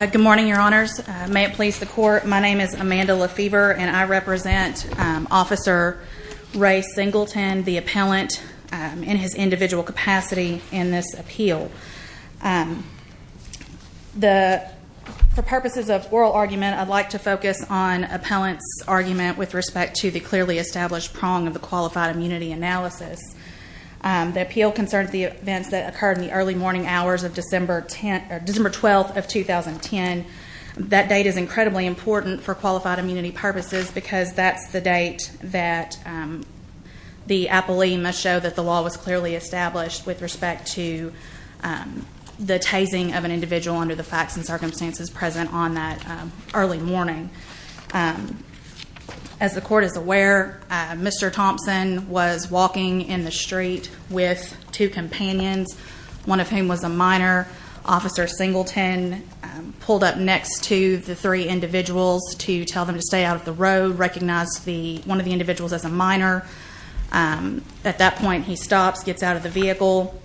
Good morning, your honors. May it please the court. My name is Amanda LaFever and I represent Officer Ray Singleton, the appellant, in his individual capacity in this appeal. For purposes of oral argument, I'd like to focus on appellant's argument with respect to the clearly established prong of the qualified immunity analysis. The appeal concerns the events that That date is incredibly important for qualified immunity purposes because that's the date that the appellee must show that the law was clearly established with respect to the tasing of an individual under the facts and circumstances present on that early morning. As the court is aware, Mr. Thompson was walking in the street with two companions, one of whom was a minor. Officer Singleton pulled up next to the three individuals to tell them to stay out of the road, recognized one of the individuals as a minor. At that point he stops, gets out of the vehicle,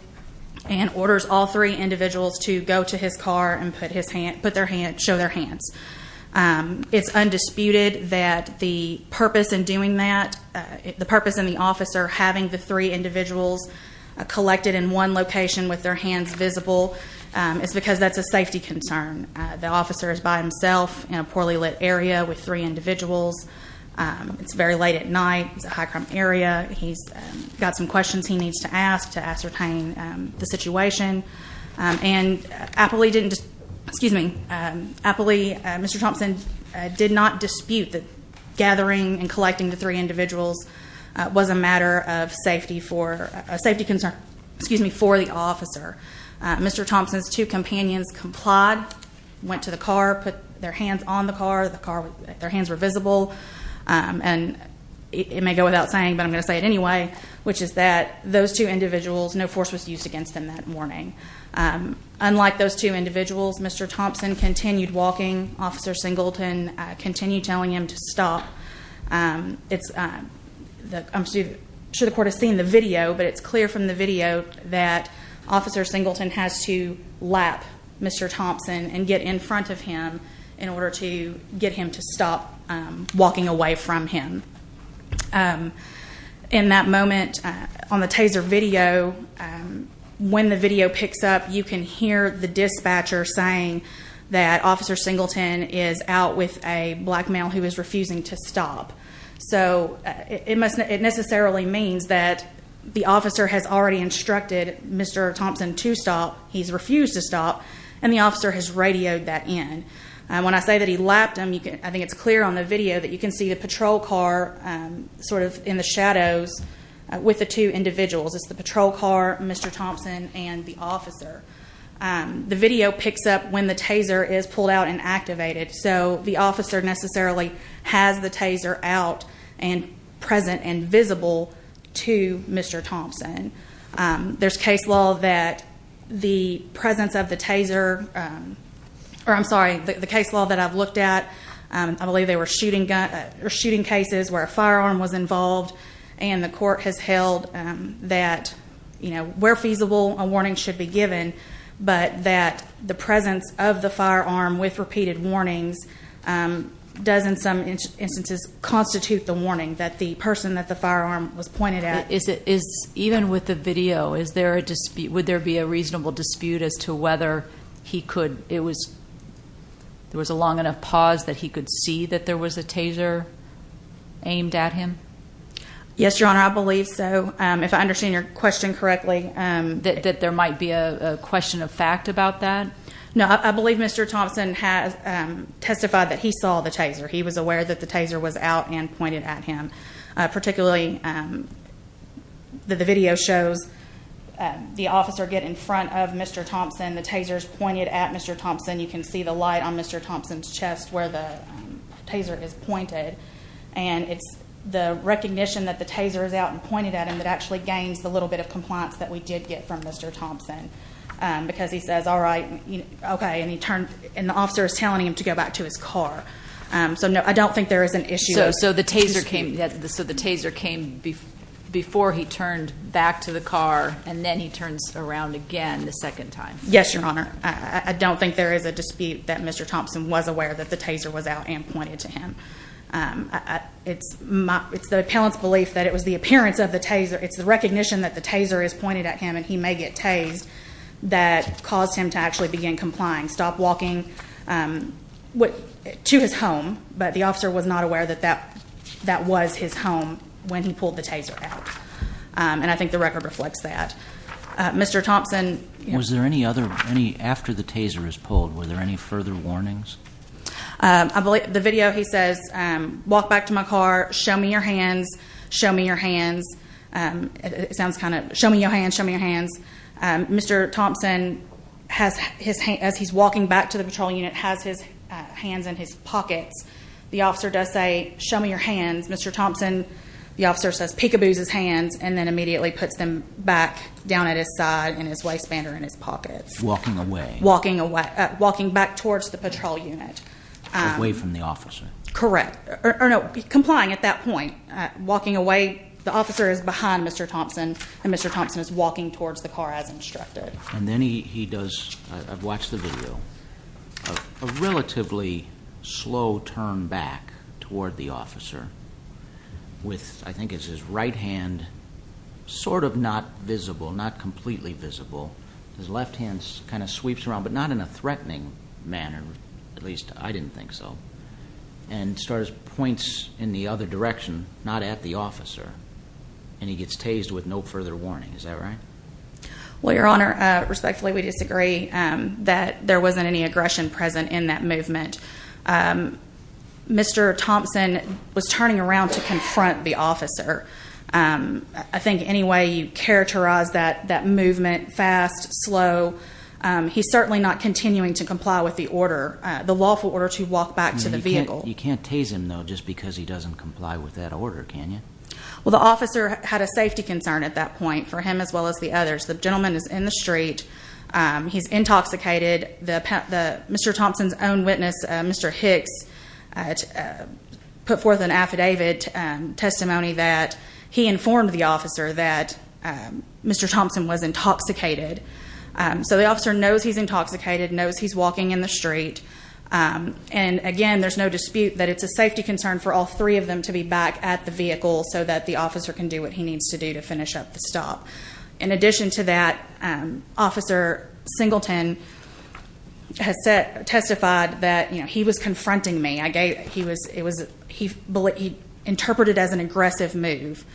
and orders all three individuals to go to his car and show their hands. It's undisputed that the purpose in doing that, the purpose in the officer having the three individuals collected in one location with their hands visible, is because that's a safety concern. The officer is by himself in a poorly lit area with three individuals. It's very late at night, it's a high crime area, he's got some questions he needs to ask to ascertain the situation. And appellee didn't, excuse me, appellee Mr. Thompson did not dispute that gathering and a safety concern, excuse me, for the officer. Mr. Thompson's two companions complied, went to the car, put their hands on the car, their hands were visible, and it may go without saying, but I'm going to say it anyway, which is that those two individuals, no force was used against them that morning. Unlike those two individuals, Mr. Thompson continued walking. Officer Singleton continued telling him to stop. I'm sure the court has seen the video, but it's clear from the video that Officer Singleton has to lap Mr. Thompson and get in front of him in order to get him to stop walking away from him. In that moment, on the taser video, when the video picks up, you can hear the dispatcher saying that Officer Singleton is out with a black male who is refusing to stop. So it necessarily means that the officer has already instructed Mr. Thompson to stop, he's refused to stop, and the officer has radioed that in. When I say that he lapped him, I think it's clear on the video that you can see the patrol car sort of in the shadows with the two individuals. It's the patrol car, Mr. Thompson, and the officer necessarily has the taser out and present and visible to Mr. Thompson. There's case law that the presence of the taser, or I'm sorry, the case law that I've looked at, I believe they were shooting cases where a firearm was involved, and the court has held that, you know, where feasible, a warning should be given, but that the presence of the firearm with repeated warnings does in some instances constitute the warning that the person that the firearm was pointed at. Is it, even with the video, is there a dispute, would there be a reasonable dispute as to whether he could, it was, there was a long enough pause that he could see that there was a taser aimed at him? Yes, Your Honor, I believe so. If I understand your question correctly, that there might be a question of fact about that? No, I believe Mr. Thompson has testified that he saw the taser. He was aware that the taser was out and pointed at him. Particularly, the video shows the officer get in front of Mr. Thompson, the taser's pointed at Mr. Thompson. You can see the light on Mr. Thompson's chest where the taser is pointed, and it's the we did get from Mr. Thompson, because he says, all right, okay, and he turned, and the officer is telling him to go back to his car. So no, I don't think there is an issue. So the taser came, so the taser came before he turned back to the car, and then he turns around again the second time? Yes, Your Honor, I don't think there is a dispute that Mr. Thompson was aware that the taser was out and pointed to him. It's my, it's the appellant's belief that it was the appearance of the taser, it's the recognition that the taser is pointed at him and he may get tased that caused him to actually begin complying, stop walking to his home, but the officer was not aware that that was his home when he pulled the taser out. And I think the record reflects that. Mr. Thompson? Was there any other, any, after the taser was pulled, were there any further warnings? I believe, the video, he says, walk back to my car, show me your hands, show me your hands. It sounds kind of, show me your hands, show me your hands. Mr. Thompson has his hands, as he's walking back to the patrol unit, has his hands in his pockets. The officer does say, show me your hands. Mr. Thompson, the officer says, peekaboos his hands and then immediately puts them back down at his side in his waistband or in his pockets. Walking away. Walking away, away from the officer. Correct. Or no, complying at that point. Walking away. The officer is behind Mr. Thompson and Mr. Thompson is walking towards the car as instructed. And then he does, I've watched the video, a relatively slow turn back toward the officer with, I think it's his right hand, sort of not visible, not completely visible. His left hand kind of sweeps around, but not in a I didn't think so. And starts, points in the other direction, not at the officer. And he gets tased with no further warning. Is that right? Well, Your Honor, respectfully, we disagree that there wasn't any aggression present in that movement. Mr. Thompson was turning around to confront the officer. I think any way you characterize that movement, fast, slow, he's certainly not continuing to comply with the lawful order to walk back to the vehicle. You can't tase him, though, just because he doesn't comply with that order, can you? Well, the officer had a safety concern at that point, for him as well as the others. The gentleman is in the street. He's intoxicated. Mr. Thompson's own witness, Mr. Hicks, put forth an affidavit testimony that he informed the officer that Mr. Thompson was intoxicated. So the officer knows he's intoxicated, knows he's walking in the street. And again, there's no dispute that it's a safety concern for all three of them to be back at the vehicle so that the officer can do what he needs to do to finish up the stop. In addition to that, Officer Singleton has testified that, you know, he was confronting me. He interpreted as an aggressive move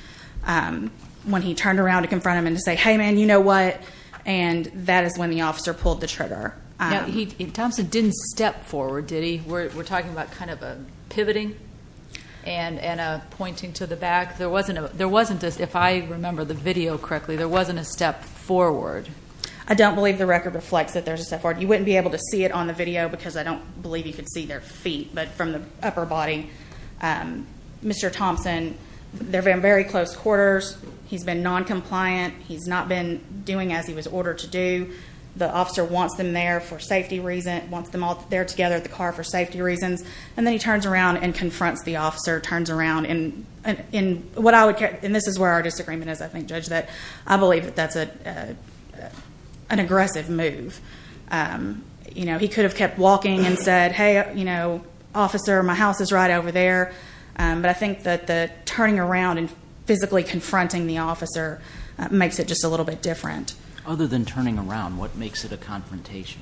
when he turned around to confront him and to say, hey man, you know what? And that is when the officer pulled the trigger. Thompson didn't step forward, did he? We're talking about kind of a pivoting and a pointing to the back. There wasn't, if I remember the video correctly, there wasn't a step forward. I don't believe the record reflects that there's a step forward. You wouldn't be able to see it on the video because I don't believe you could see their feet. But from the upper body, Mr. Singleton has not been doing as he was ordered to do. The officer wants them there for safety reasons, wants them all there together at the car for safety reasons. And then he turns around and confronts the officer, turns around. And this is where our disagreement is, I think, Judge, that I believe that that's an aggressive move. You know, he could have kept walking and said, hey, you know, officer, my house is right over there. But I think that the turning around and confronting the officer makes it just a little bit different. Other than turning around, what makes it a confrontation?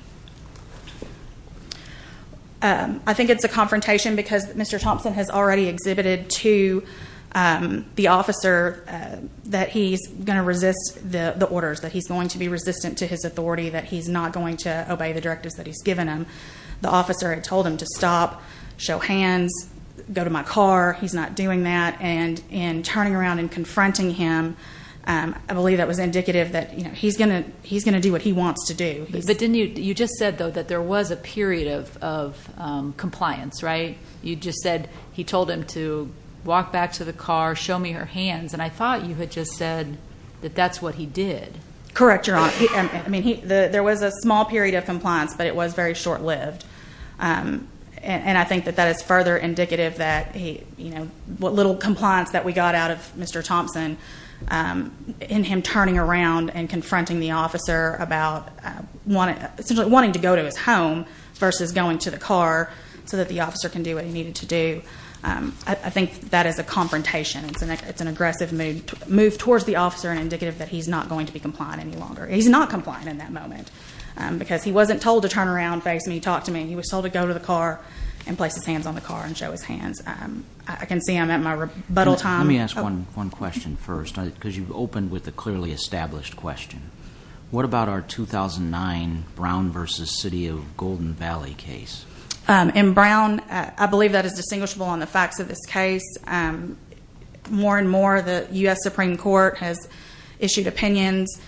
I think it's a confrontation because Mr. Thompson has already exhibited to the officer that he's going to resist the orders, that he's going to be resistant to his authority, that he's not going to obey the directives that he's given him. The officer had told him to stop, show hands, go to my car. He's not doing that. And in turning around and confronting him, I believe that was indicative that he's going to do what he wants to do. But didn't you just said, though, that there was a period of compliance, right? You just said he told him to walk back to the car, show me her hands. And I thought you had just said that that's what he did. Correct, Your Honor. I mean, there was a small period of compliance, but it was very short-lived. And I think that that is further indicative that what little compliance that we got out of Mr. Thompson in him turning around and confronting the officer about essentially wanting to go to his home versus going to the car so that the officer can do what he needed to do. I think that is a confrontation. It's an aggressive move towards the officer and indicative that he's not going to be compliant any longer. He's not compliant in that moment because he talked to me. He was told to go to the car and place his hands on the car and show his hands. I can see I'm at my rebuttal time. Let me ask one question first because you've opened with a clearly established question. What about our 2009 Brown versus City of Golden Valley case? In Brown, I believe that is distinguishable on the facts of this case. More and more, the U.S. Supreme Court has issued opinions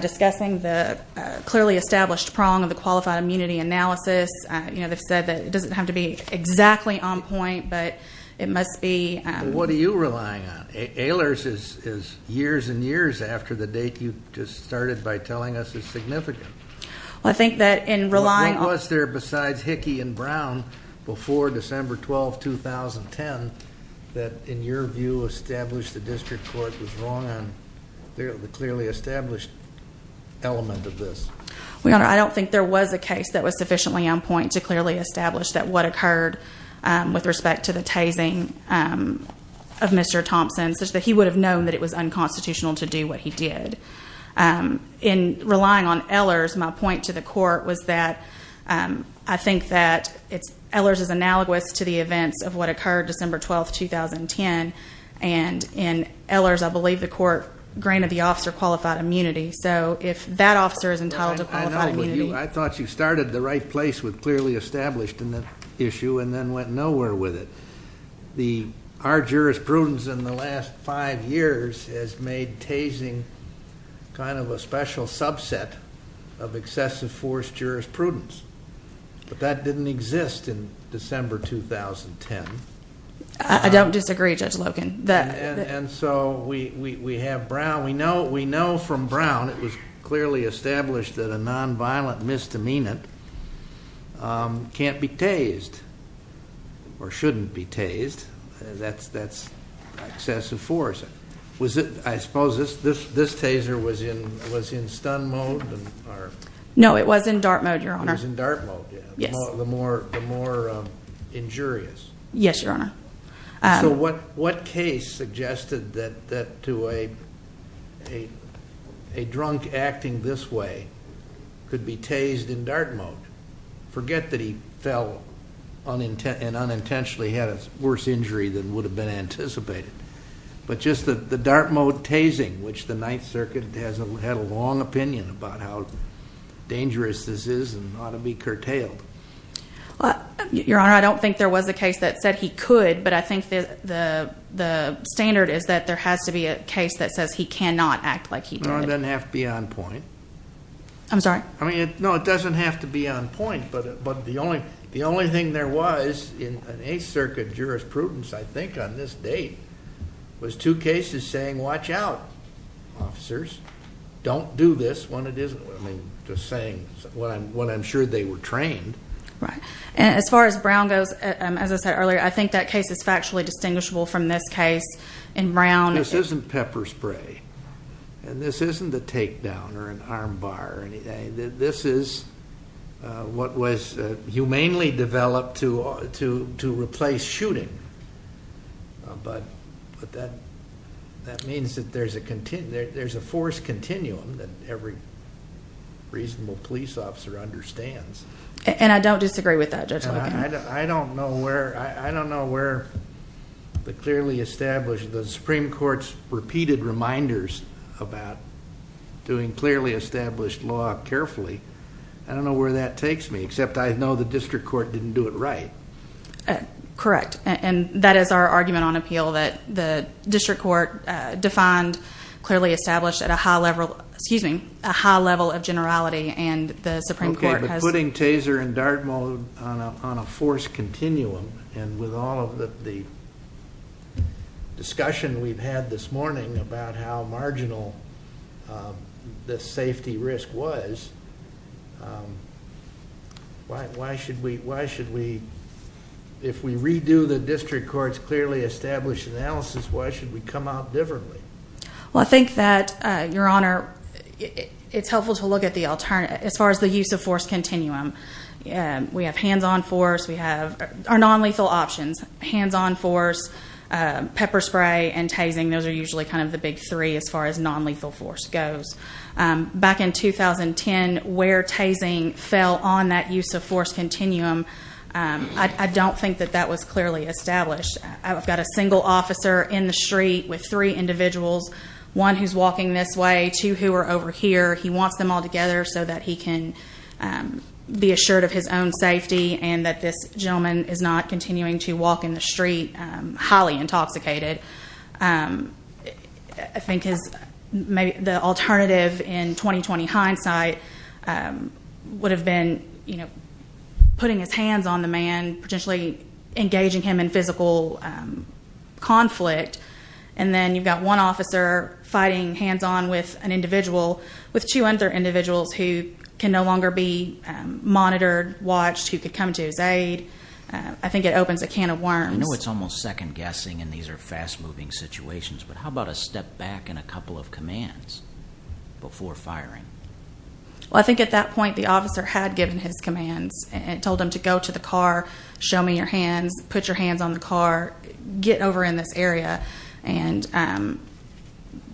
discussing the clearly established prong of qualified immunity analysis. They've said that it doesn't have to be exactly on point, but it must be. What are you relying on? Ehlers is years and years after the date you just started by telling us is significant. What was there besides Hickey and Brown before December 12, 2010, that in your view established the district court was wrong on the clearly established element of this? I don't think there was a case that was sufficiently on point to clearly establish that what occurred with respect to the tasing of Mr. Thompson, such that he would have known that it was unconstitutional to do what he did. In relying on Ehlers, my point to the court was that I think that Ehlers is analogous to the events of what occurred December 12, 2010. In Ehlers, I believe the court granted the officer qualified immunity. If that officer is entitled to qualified immunity. I thought you started the right place with clearly established in the issue and then went nowhere with it. Our jurisprudence in the last five years has made tasing kind of a special subset of excessive force jurisprudence, but that didn't exist in December 2010. I don't disagree, Judge Logan. And so we have Brown. We know from Brown it was clearly established that a nonviolent misdemeanant can't be tased or shouldn't be tased. That's excessive force. I suppose this taser was in stun mode? No, it was in dart mode, Your Honor. It was in dart mode. The more injurious. Yes, Your Honor. So what case suggested that to a drunk acting this way could be tased in dart mode? Forget that he fell and unintentionally had a worse injury than would have been anticipated. But just the dart mode tasing, which the Ninth Circuit has had a long opinion about how dangerous this is and ought to be curtailed. Your Honor, I don't think there was a case that said he could, but I think the standard is that there has to be a case that says he cannot act like he did. No, it doesn't have to be on point. I'm sorry? I mean, no, it doesn't have to be on point, but the only thing there was in an Eighth Circuit jurisprudence, I think on this date, was two cases saying, watch out, officers, don't do this when it isn't. I mean, just saying what I'm sure they were trained. Right. And as far as Brown goes, as I said earlier, I think that case is factually distinguishable from this case in Brown. This isn't pepper spray. And this isn't a takedown or an arm bar or anything. This is what was humanely developed to replace shooting. But that means that there's a force continuum that every reasonable police officer understands. And I don't disagree with that, Judge Holigan. I don't know where the clearly established, the Supreme Court's repeated reminders about doing clearly established law carefully. I don't know where that takes me, except I know the district court didn't do it right. Correct. And that is our argument on appeal, that the district court defined clearly established at a high level of generality, and the Supreme Court has... Putting Taser and Dartmoor on a force continuum, and with all of the discussion we've had this morning about how marginal the safety risk was, why should we, if we redo the district court's clearly established analysis, why should we come out differently? Well, I think that, Your Honor, it's helpful to look at the alternative. As far as the use of force continuum, we have hands-on force. We have our non-lethal options, hands-on force, pepper spray, and tasing. Those are usually kind of the big three as far as non-lethal force goes. Back in 2010, where tasing fell on that use of force continuum, I don't think that that was clearly established. I've got a single officer in the street with three individuals, one who's walking this way, two who are over here. He wants them all together so that he can be assured of his own safety and that this gentleman is not continuing to walk in the street highly intoxicated. I think the alternative in 2020 hindsight would have been putting his hands on the man, potentially engaging him in physical conflict. And then you've got one officer fighting hands-on with an individual, with two other individuals who can no longer be monitored, watched, who could come to his aid. I think it opens a can of worms. I know it's almost second-guessing, and these are fast-moving situations, but how about a step back and a couple of commands before firing? Well, I think at that point the officer had given his commands and told him to go to the car, show me your hands, put your hands on the car, get over in this area. And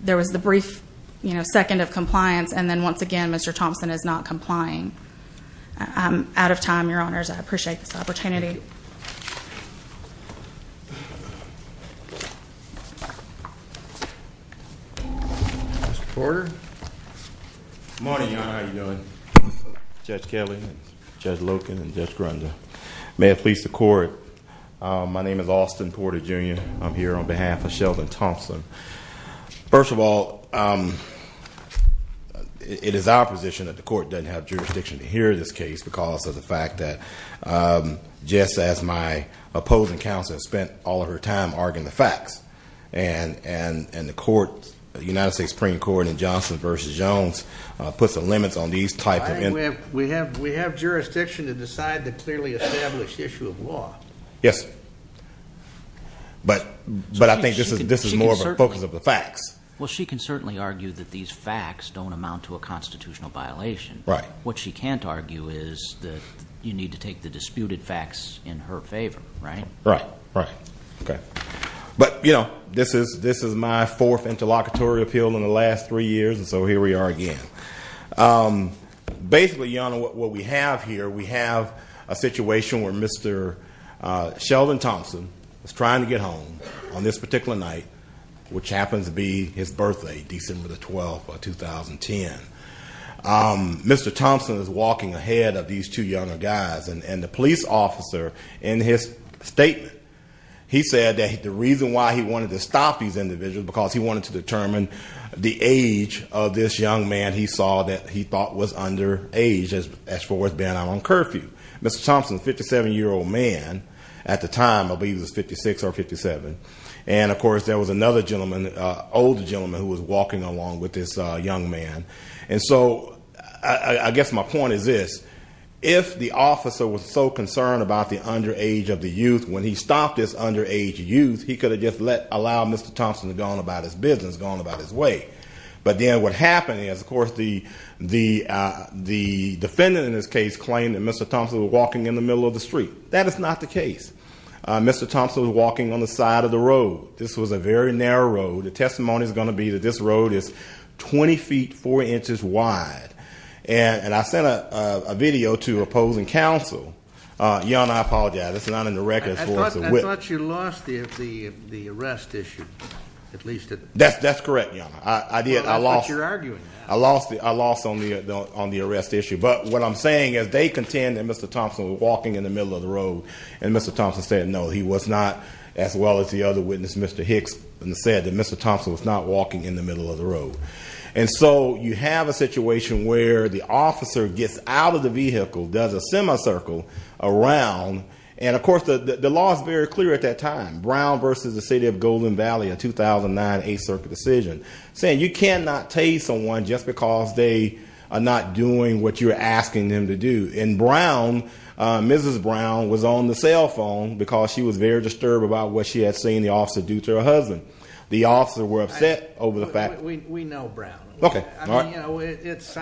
there was the brief second of compliance, and then once again, Mr. Thompson is not complying. I'm out of time, Your Honors. I appreciate this opportunity. Mr. Porter? Good morning, Your Honor. How are you doing? Judge Kelly, Judge Loken, and Judge Grunda. May it please the Court, my name is Austin Porter, Jr. I'm here on behalf of Sheldon Thompson. First of all, it is our position that the Court doesn't have jurisdiction to hear this case because of the fact that Jess, as my opposing counsel, has spent all of her time arguing the facts. And the United States Supreme Court in Johnson v. Jones puts the limits on these types of... We have jurisdiction to decide the clearly established issue of law. Yes. But I think this is more of a focus of the facts. Well, she can certainly argue that these facts don't amount to a constitutional violation. Right. What she can't argue is that you need to take the disputed facts in her favor, right? Right, right. Okay. But this is my fourth interlocutory appeal in the last three years, and so here we are again. Basically, Your Honor, what we have here, we have a situation where Mr. Sheldon Thompson was trying to get home on this particular night, which happens to be his birthday, December the 12th of 2010. Mr. Thompson is walking ahead of these two younger guys, and the police officer, in his statement, he said that the reason why he wanted to stop these individuals, because he wanted to determine the age of this young man he saw that he thought was underage as far as being out on curfew. Mr. Thompson, a 57-year-old man at the time, I believe he was 56 or 57, and of course, there was another gentleman, an older gentleman, who was walking along with this young man. So I guess my point is this. If the officer was so concerned about the underage of the youth, when he stopped this underage youth, he could have just allowed Mr. Thompson to go on about his business, go on about his way. But then what happened is, of course, the defendant in this case claimed that Mr. Thompson was walking in the middle of the street. That is not the case. Mr. Thompson was walking on the side of the road. This was a very narrow road. The testimony is going to be that this road is 20 feet, 4 inches wide. And I sent a video to opposing counsel. Your Honor, I apologize. It's not in the records. I thought you lost the arrest issue, at least. That's correct, Your Honor. I did. I lost. But you're arguing that. I lost on the arrest issue. But what I'm saying is, they contend that Mr. Thompson was walking in the middle of the road. And Mr. Thompson said, no, he was not. As well as the other witness, Mr. Hicks, said that Mr. Thompson was not walking in the middle of the road. And so you have a situation where the officer gets out of the vehicle, does a semicircle around. And, of course, the law is very clear at that time. Brown v. The City of Golden Valley, a 2009 8th Circuit decision, saying you cannot tase someone just because they are not doing what you're asking them to do. And Brown, Mrs. Brown, was on the cell phone because she was very disturbed about what she had seen the officer do to her husband. The officer were upset over the fact. We know Brown. OK. I mean, it's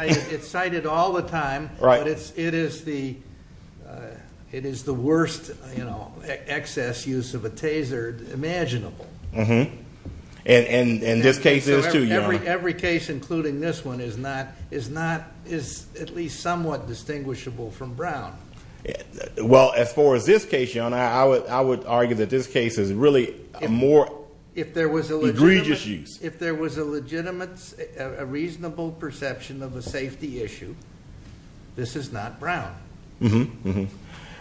cited all the time. Right. But it is the worst excess use of a taser imaginable. And this case is, too, Your Honor. Every case, including this one, is at least somewhat distinguishable from Brown. Well, as far as this case, Your Honor, I would argue that this case is really a more egregious use. If there was a legitimate, a reasonable perception of a safety issue, this is not Brown.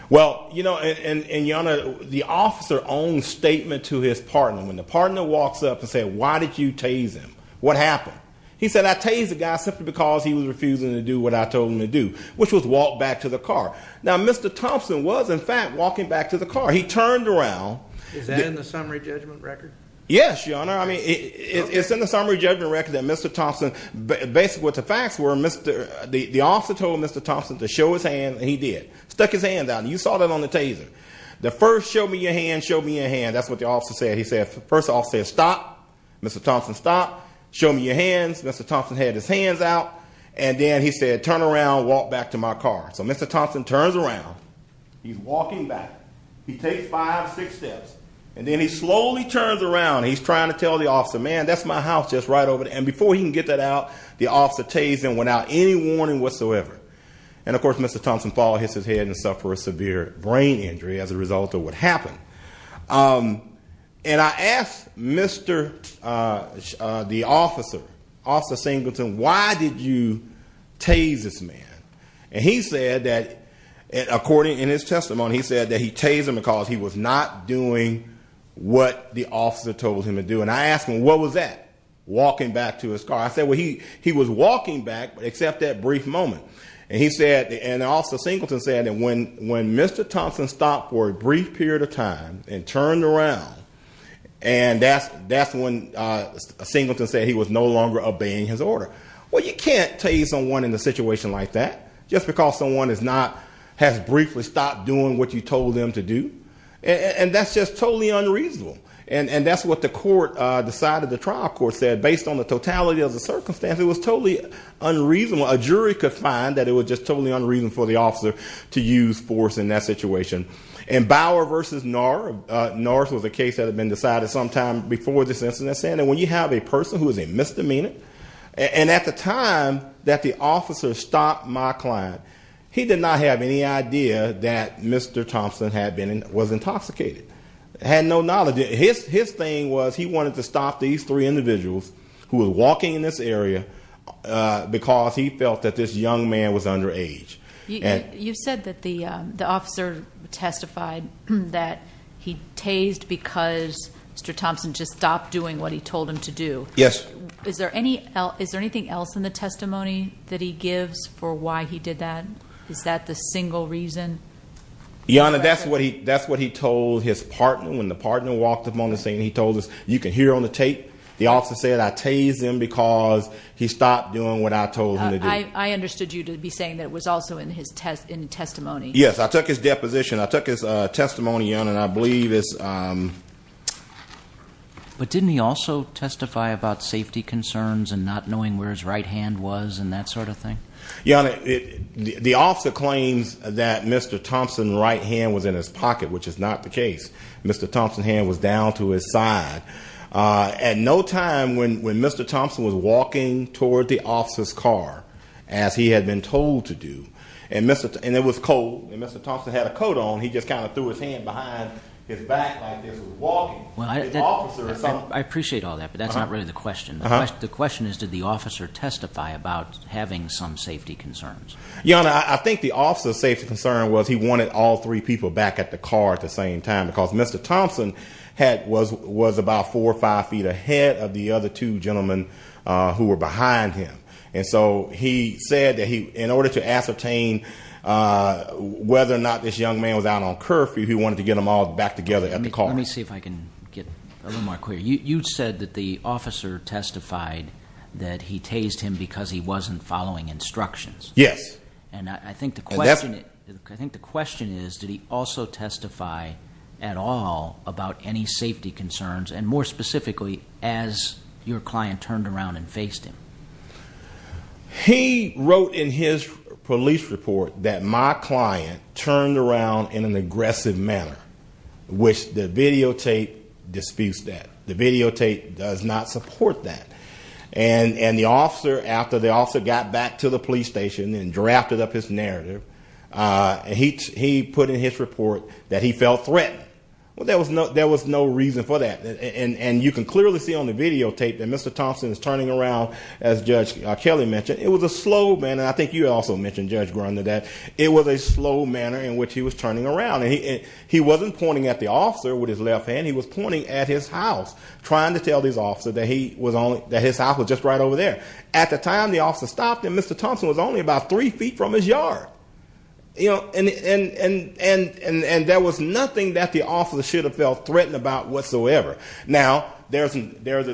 Well, Your Honor, the officer owns statement to his partner. When the partner walks up and says, why did you tase him? What happened? He said, I tased the guy simply because he was refusing to do what I told him to do, which was walk back to the car. Now, Mr. Thompson was, in fact, walking back to the car. He turned around. Is that in the summary judgment record? Yes, Your Honor. I mean, it's in the summary judgment record that Mr. Thompson, basically what the facts were, the officer told Mr. Thompson to show his hand, and he did. Stuck his hand out. You saw that on the taser. The first, show me your hand, show me your hand. That's what the officer said. First, the officer said, stop. Mr. Thompson, stop. Show me your hands. Mr. Thompson had his hands out. And then he said, turn around, walk back to my car. So Mr. Thompson turns around. He's walking back. He takes five, six steps. And then he slowly turns around. He's trying to tell the officer, man, that's my house just right over there. And before he can get that out, the officer tased him without any warning whatsoever. And of course, Mr. Thompson followed, hits his head, and suffered a severe brain injury as a result of what happened. And I asked Mr., the officer, Officer Singleton, why did you tase this man? And he said that, according, in his testimony, he said that he tased him because he was not doing what the officer told him to do. And I asked him, what was that? Walking back to his car. I said, well, he was walking back, except that brief moment. And he said, and Officer Singleton said that when Mr. Thompson stopped for a brief period of time and turned around, and that's when Singleton said he was no longer obeying his order. Well, you can't tase someone in a situation like that just because someone has briefly stopped doing what you told them to do. And that's just totally unreasonable. And that's what the court, the side of the trial court, said. Based on the totality of the circumstance, it was totally unreasonable. A jury could find that it was just totally unreasonable for the officer to use force in that situation. And Bauer versus Norris, Norris was a case that had been decided sometime before this incident, saying that when you have a person who is a misdemeanor, and at the time that the officer stopped my client, he did not have any idea that Mr. Thompson was intoxicated. He had no knowledge. His thing was he wanted to stop these three individuals who were walking in this area because he felt that this young man was underage. You said that the officer testified that he tased because Mr. Thompson just stopped doing what he told him to do. Yes. Is there anything else in the testimony that he gives for why he did that? Is that the single reason? Your Honor, that's what he told his partner. When the partner walked up on the scene, he told us, you can hear on the tape, the officer said, I tased him because he stopped doing what I told him to do. I understood you to be saying that it was also in his testimony. Yes, I took his deposition. I took his testimony, Your Honor, and I believe it's- But didn't he also testify about safety concerns and not knowing where his right hand was and that sort of thing? Your Honor, the officer claims that Mr. Thompson's right hand was in his pocket, which is not the case. Mr. Thompson's hand was down to his side. At no time when Mr. Thompson was walking toward the officer's car, as he had been told to do, and it was cold and Mr. Thompson had a coat on, he just kind of threw his hand behind his back like this, walking. I appreciate all that, but that's not really the question. The question is, did the officer testify about having some safety concerns? Your Honor, I think the officer's safety concern was he wanted all three people back at the car at the same time, because Mr. Thompson was about four or five feet ahead of the other two gentlemen who were behind him. And so he said that in order to ascertain whether or not this young man was out on curfew, he wanted to get them all back together at the car. Let me see if I can get a little more clear. You said that the officer testified that he tased him because he wasn't following instructions. Yes. And I think the question is, did he also testify at all about any safety concerns, and more specifically, as your client turned around and faced him? He wrote in his police report that my client turned around in an aggressive manner, which the videotape disputes that. The videotape does not support that. And the officer, after the officer got back to the police station and drafted up his narrative, he put in his report that he felt threatened. Well, there was no reason for that, and you can clearly see on the videotape that Mr. Thompson is turning around, as Judge Kelly mentioned. It was a slow manner. I think you also mentioned, Judge Grunder, that it was a slow manner in which he was turning around, and he wasn't pointing at the officer with his left hand. He was pointing at his house, trying to tell his officer that his house was just right over there. At the time, the officer stopped, and Mr. Thompson was only about three feet from his yard, and there was nothing that the officer should have felt threatened about whatsoever. Now, there's a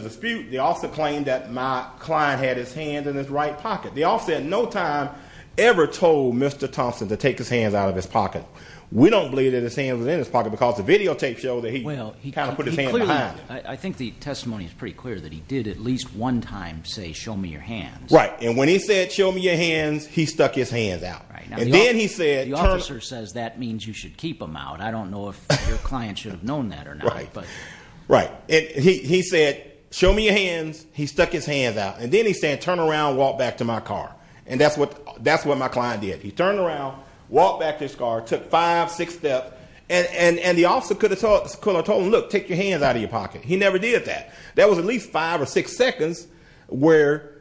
dispute. The officer claimed that my client had his hand in his right pocket. The officer at no time ever told Mr. Thompson to take his hands out of his pocket. We don't believe that his hand was in his pocket because the videotape showed that he put his hand behind it. I think the testimony is pretty clear that he did at least one time say, show me your hands. Right. And when he said, show me your hands, he stuck his hands out. Right. And then he said- The officer says that means you should keep them out. I don't know if your client should have known that or not, but- Right. He said, show me your hands. He stuck his hands out. And then he said, turn around, walk back to my car. And that's what my client did. He turned around, walked back to his car, took five, six steps. And the officer could have told him, look, take your hands out of your pocket. He never did that. There was at least five or six seconds where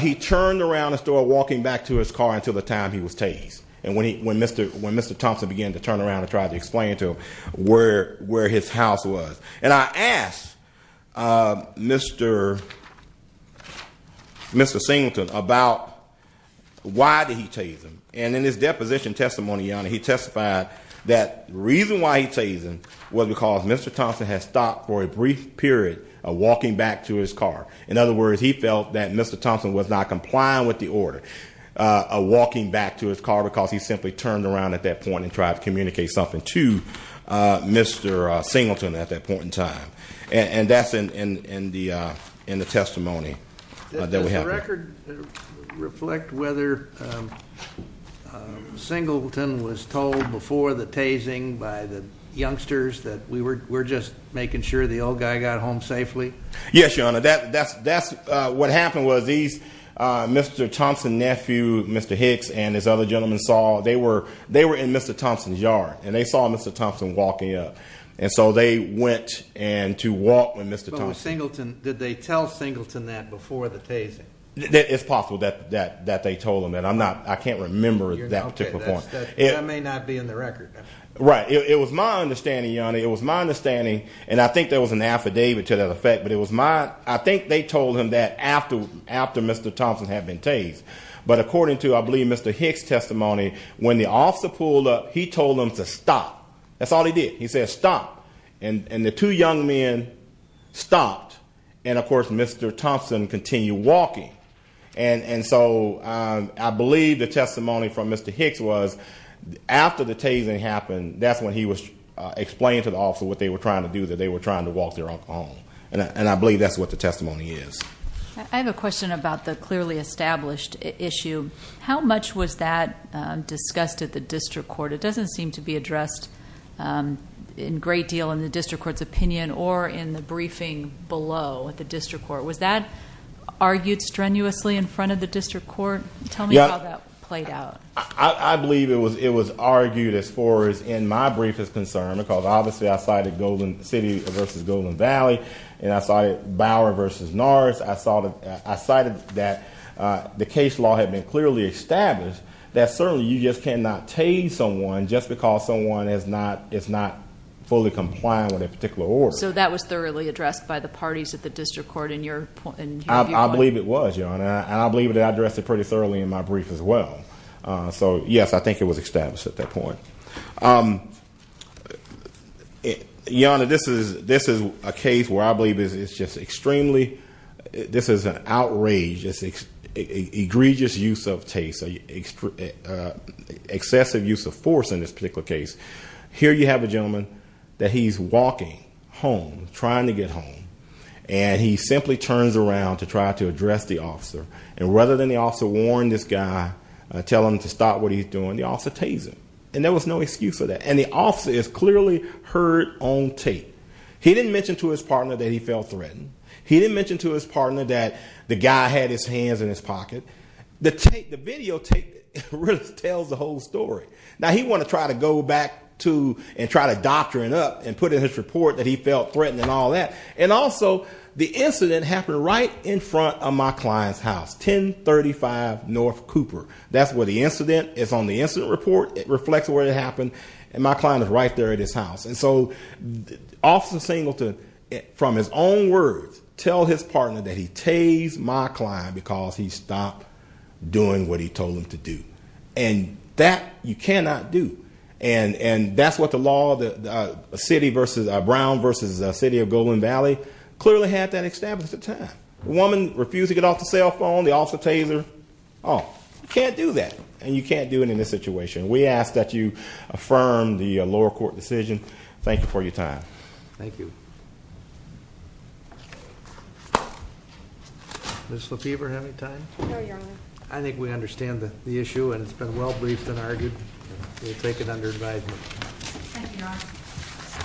he turned around and started walking back to his car until the time he was tased. And when Mr. Thompson began to turn around and try to explain to him where his house was. And I asked Mr. Singleton about why did he tase him. And in his deposition testimony, he testified that the reason why he tased him was because Mr. Thompson had stopped for a brief period of walking back to his car. In other words, he felt that Mr. Thompson was not complying with the order of walking back to his car because he simply turned around at that point and tried to communicate something to Mr. Singleton at that point in time. And that's in the testimony that we have. Does the record reflect whether Singleton was told before the tasing by the youngsters that we were just making sure the old guy got home safely? Yes, Your Honor. That's what happened was these Mr. Thompson nephew, Mr. Hicks and his other gentlemen saw they were in Mr. Thompson's yard and they saw Mr. Thompson walking up. Did they tell Singleton that before the tasing? It's possible that they told him that. I can't remember that particular point. That may not be in the record. Right. It was my understanding, Your Honor. It was my understanding. And I think there was an affidavit to that effect. I think they told him that after Mr. Thompson had been tased. But according to, I believe, Mr. Hicks' testimony, when the officer pulled up, he told him to stop. That's all he did. He said stop. And the two young men stopped. And, of course, Mr. Thompson continued walking. And so I believe the testimony from Mr. Hicks was after the tasing happened, that's when he was explaining to the officer what they were trying to do, that they were trying to walk their uncle home. And I believe that's what the testimony is. I have a question about the clearly established issue. How much was that discussed at the district court? It doesn't seem to be addressed in great deal in the district court's opinion or in the briefing below at the district court. Was that argued strenuously in front of the district court? Tell me how that played out. I believe it was argued as far as in my brief is concerned, because obviously I cited Golden City versus Golden Valley. And I cited Bower versus Norris. I cited that the case law had been clearly established, that certainly you just cannot tase someone just because someone is not fully compliant with a particular order. So that was thoroughly addressed by the parties at the district court in your view? I believe it was, Your Honor. And I believe that I addressed it pretty thoroughly in my brief as well. So, yes, I think it was established at that point. Your Honor, this is a case where I believe it's just extremely, this is an outrage, egregious use of tase, excessive use of force in this particular case. Here you have a gentleman that he's walking home, trying to get home, and he simply turns around to try to address the officer. And rather than the officer warn this guy, tell him to stop what he's doing, the officer tase him. And there was no excuse for that. And the officer is clearly heard on tape. He didn't mention to his partner that he felt threatened. He didn't mention to his partner that the guy had his hands in his pocket. The videotape really tells the whole story. Now, he wanted to try to go back to and try to doctrine up and put in his report that he felt threatened and all that. And also, the incident happened right in front of my client's house, 1035 North Cooper. That's where the incident is on the incident report. It reflects where it happened. And my client is right there at his house. And so, Officer Singleton, from his own words, tell his partner that he tased my client because he stopped doing what he told him to do. And that you cannot do. And that's what the law, Brown versus City of Golden Valley, clearly had that established at the time. The woman refused to get off the cell phone. The officer tased her. Oh, you can't do that. And you can't do it in this situation. We ask that you affirm the lower court decision. Thank you for your time. Thank you. Ms. LaFever, do you have any time? No, Your Honor. I think we understand the issue. And it's been well briefed and argued. We take it under advisement. Thank you, Your Honor.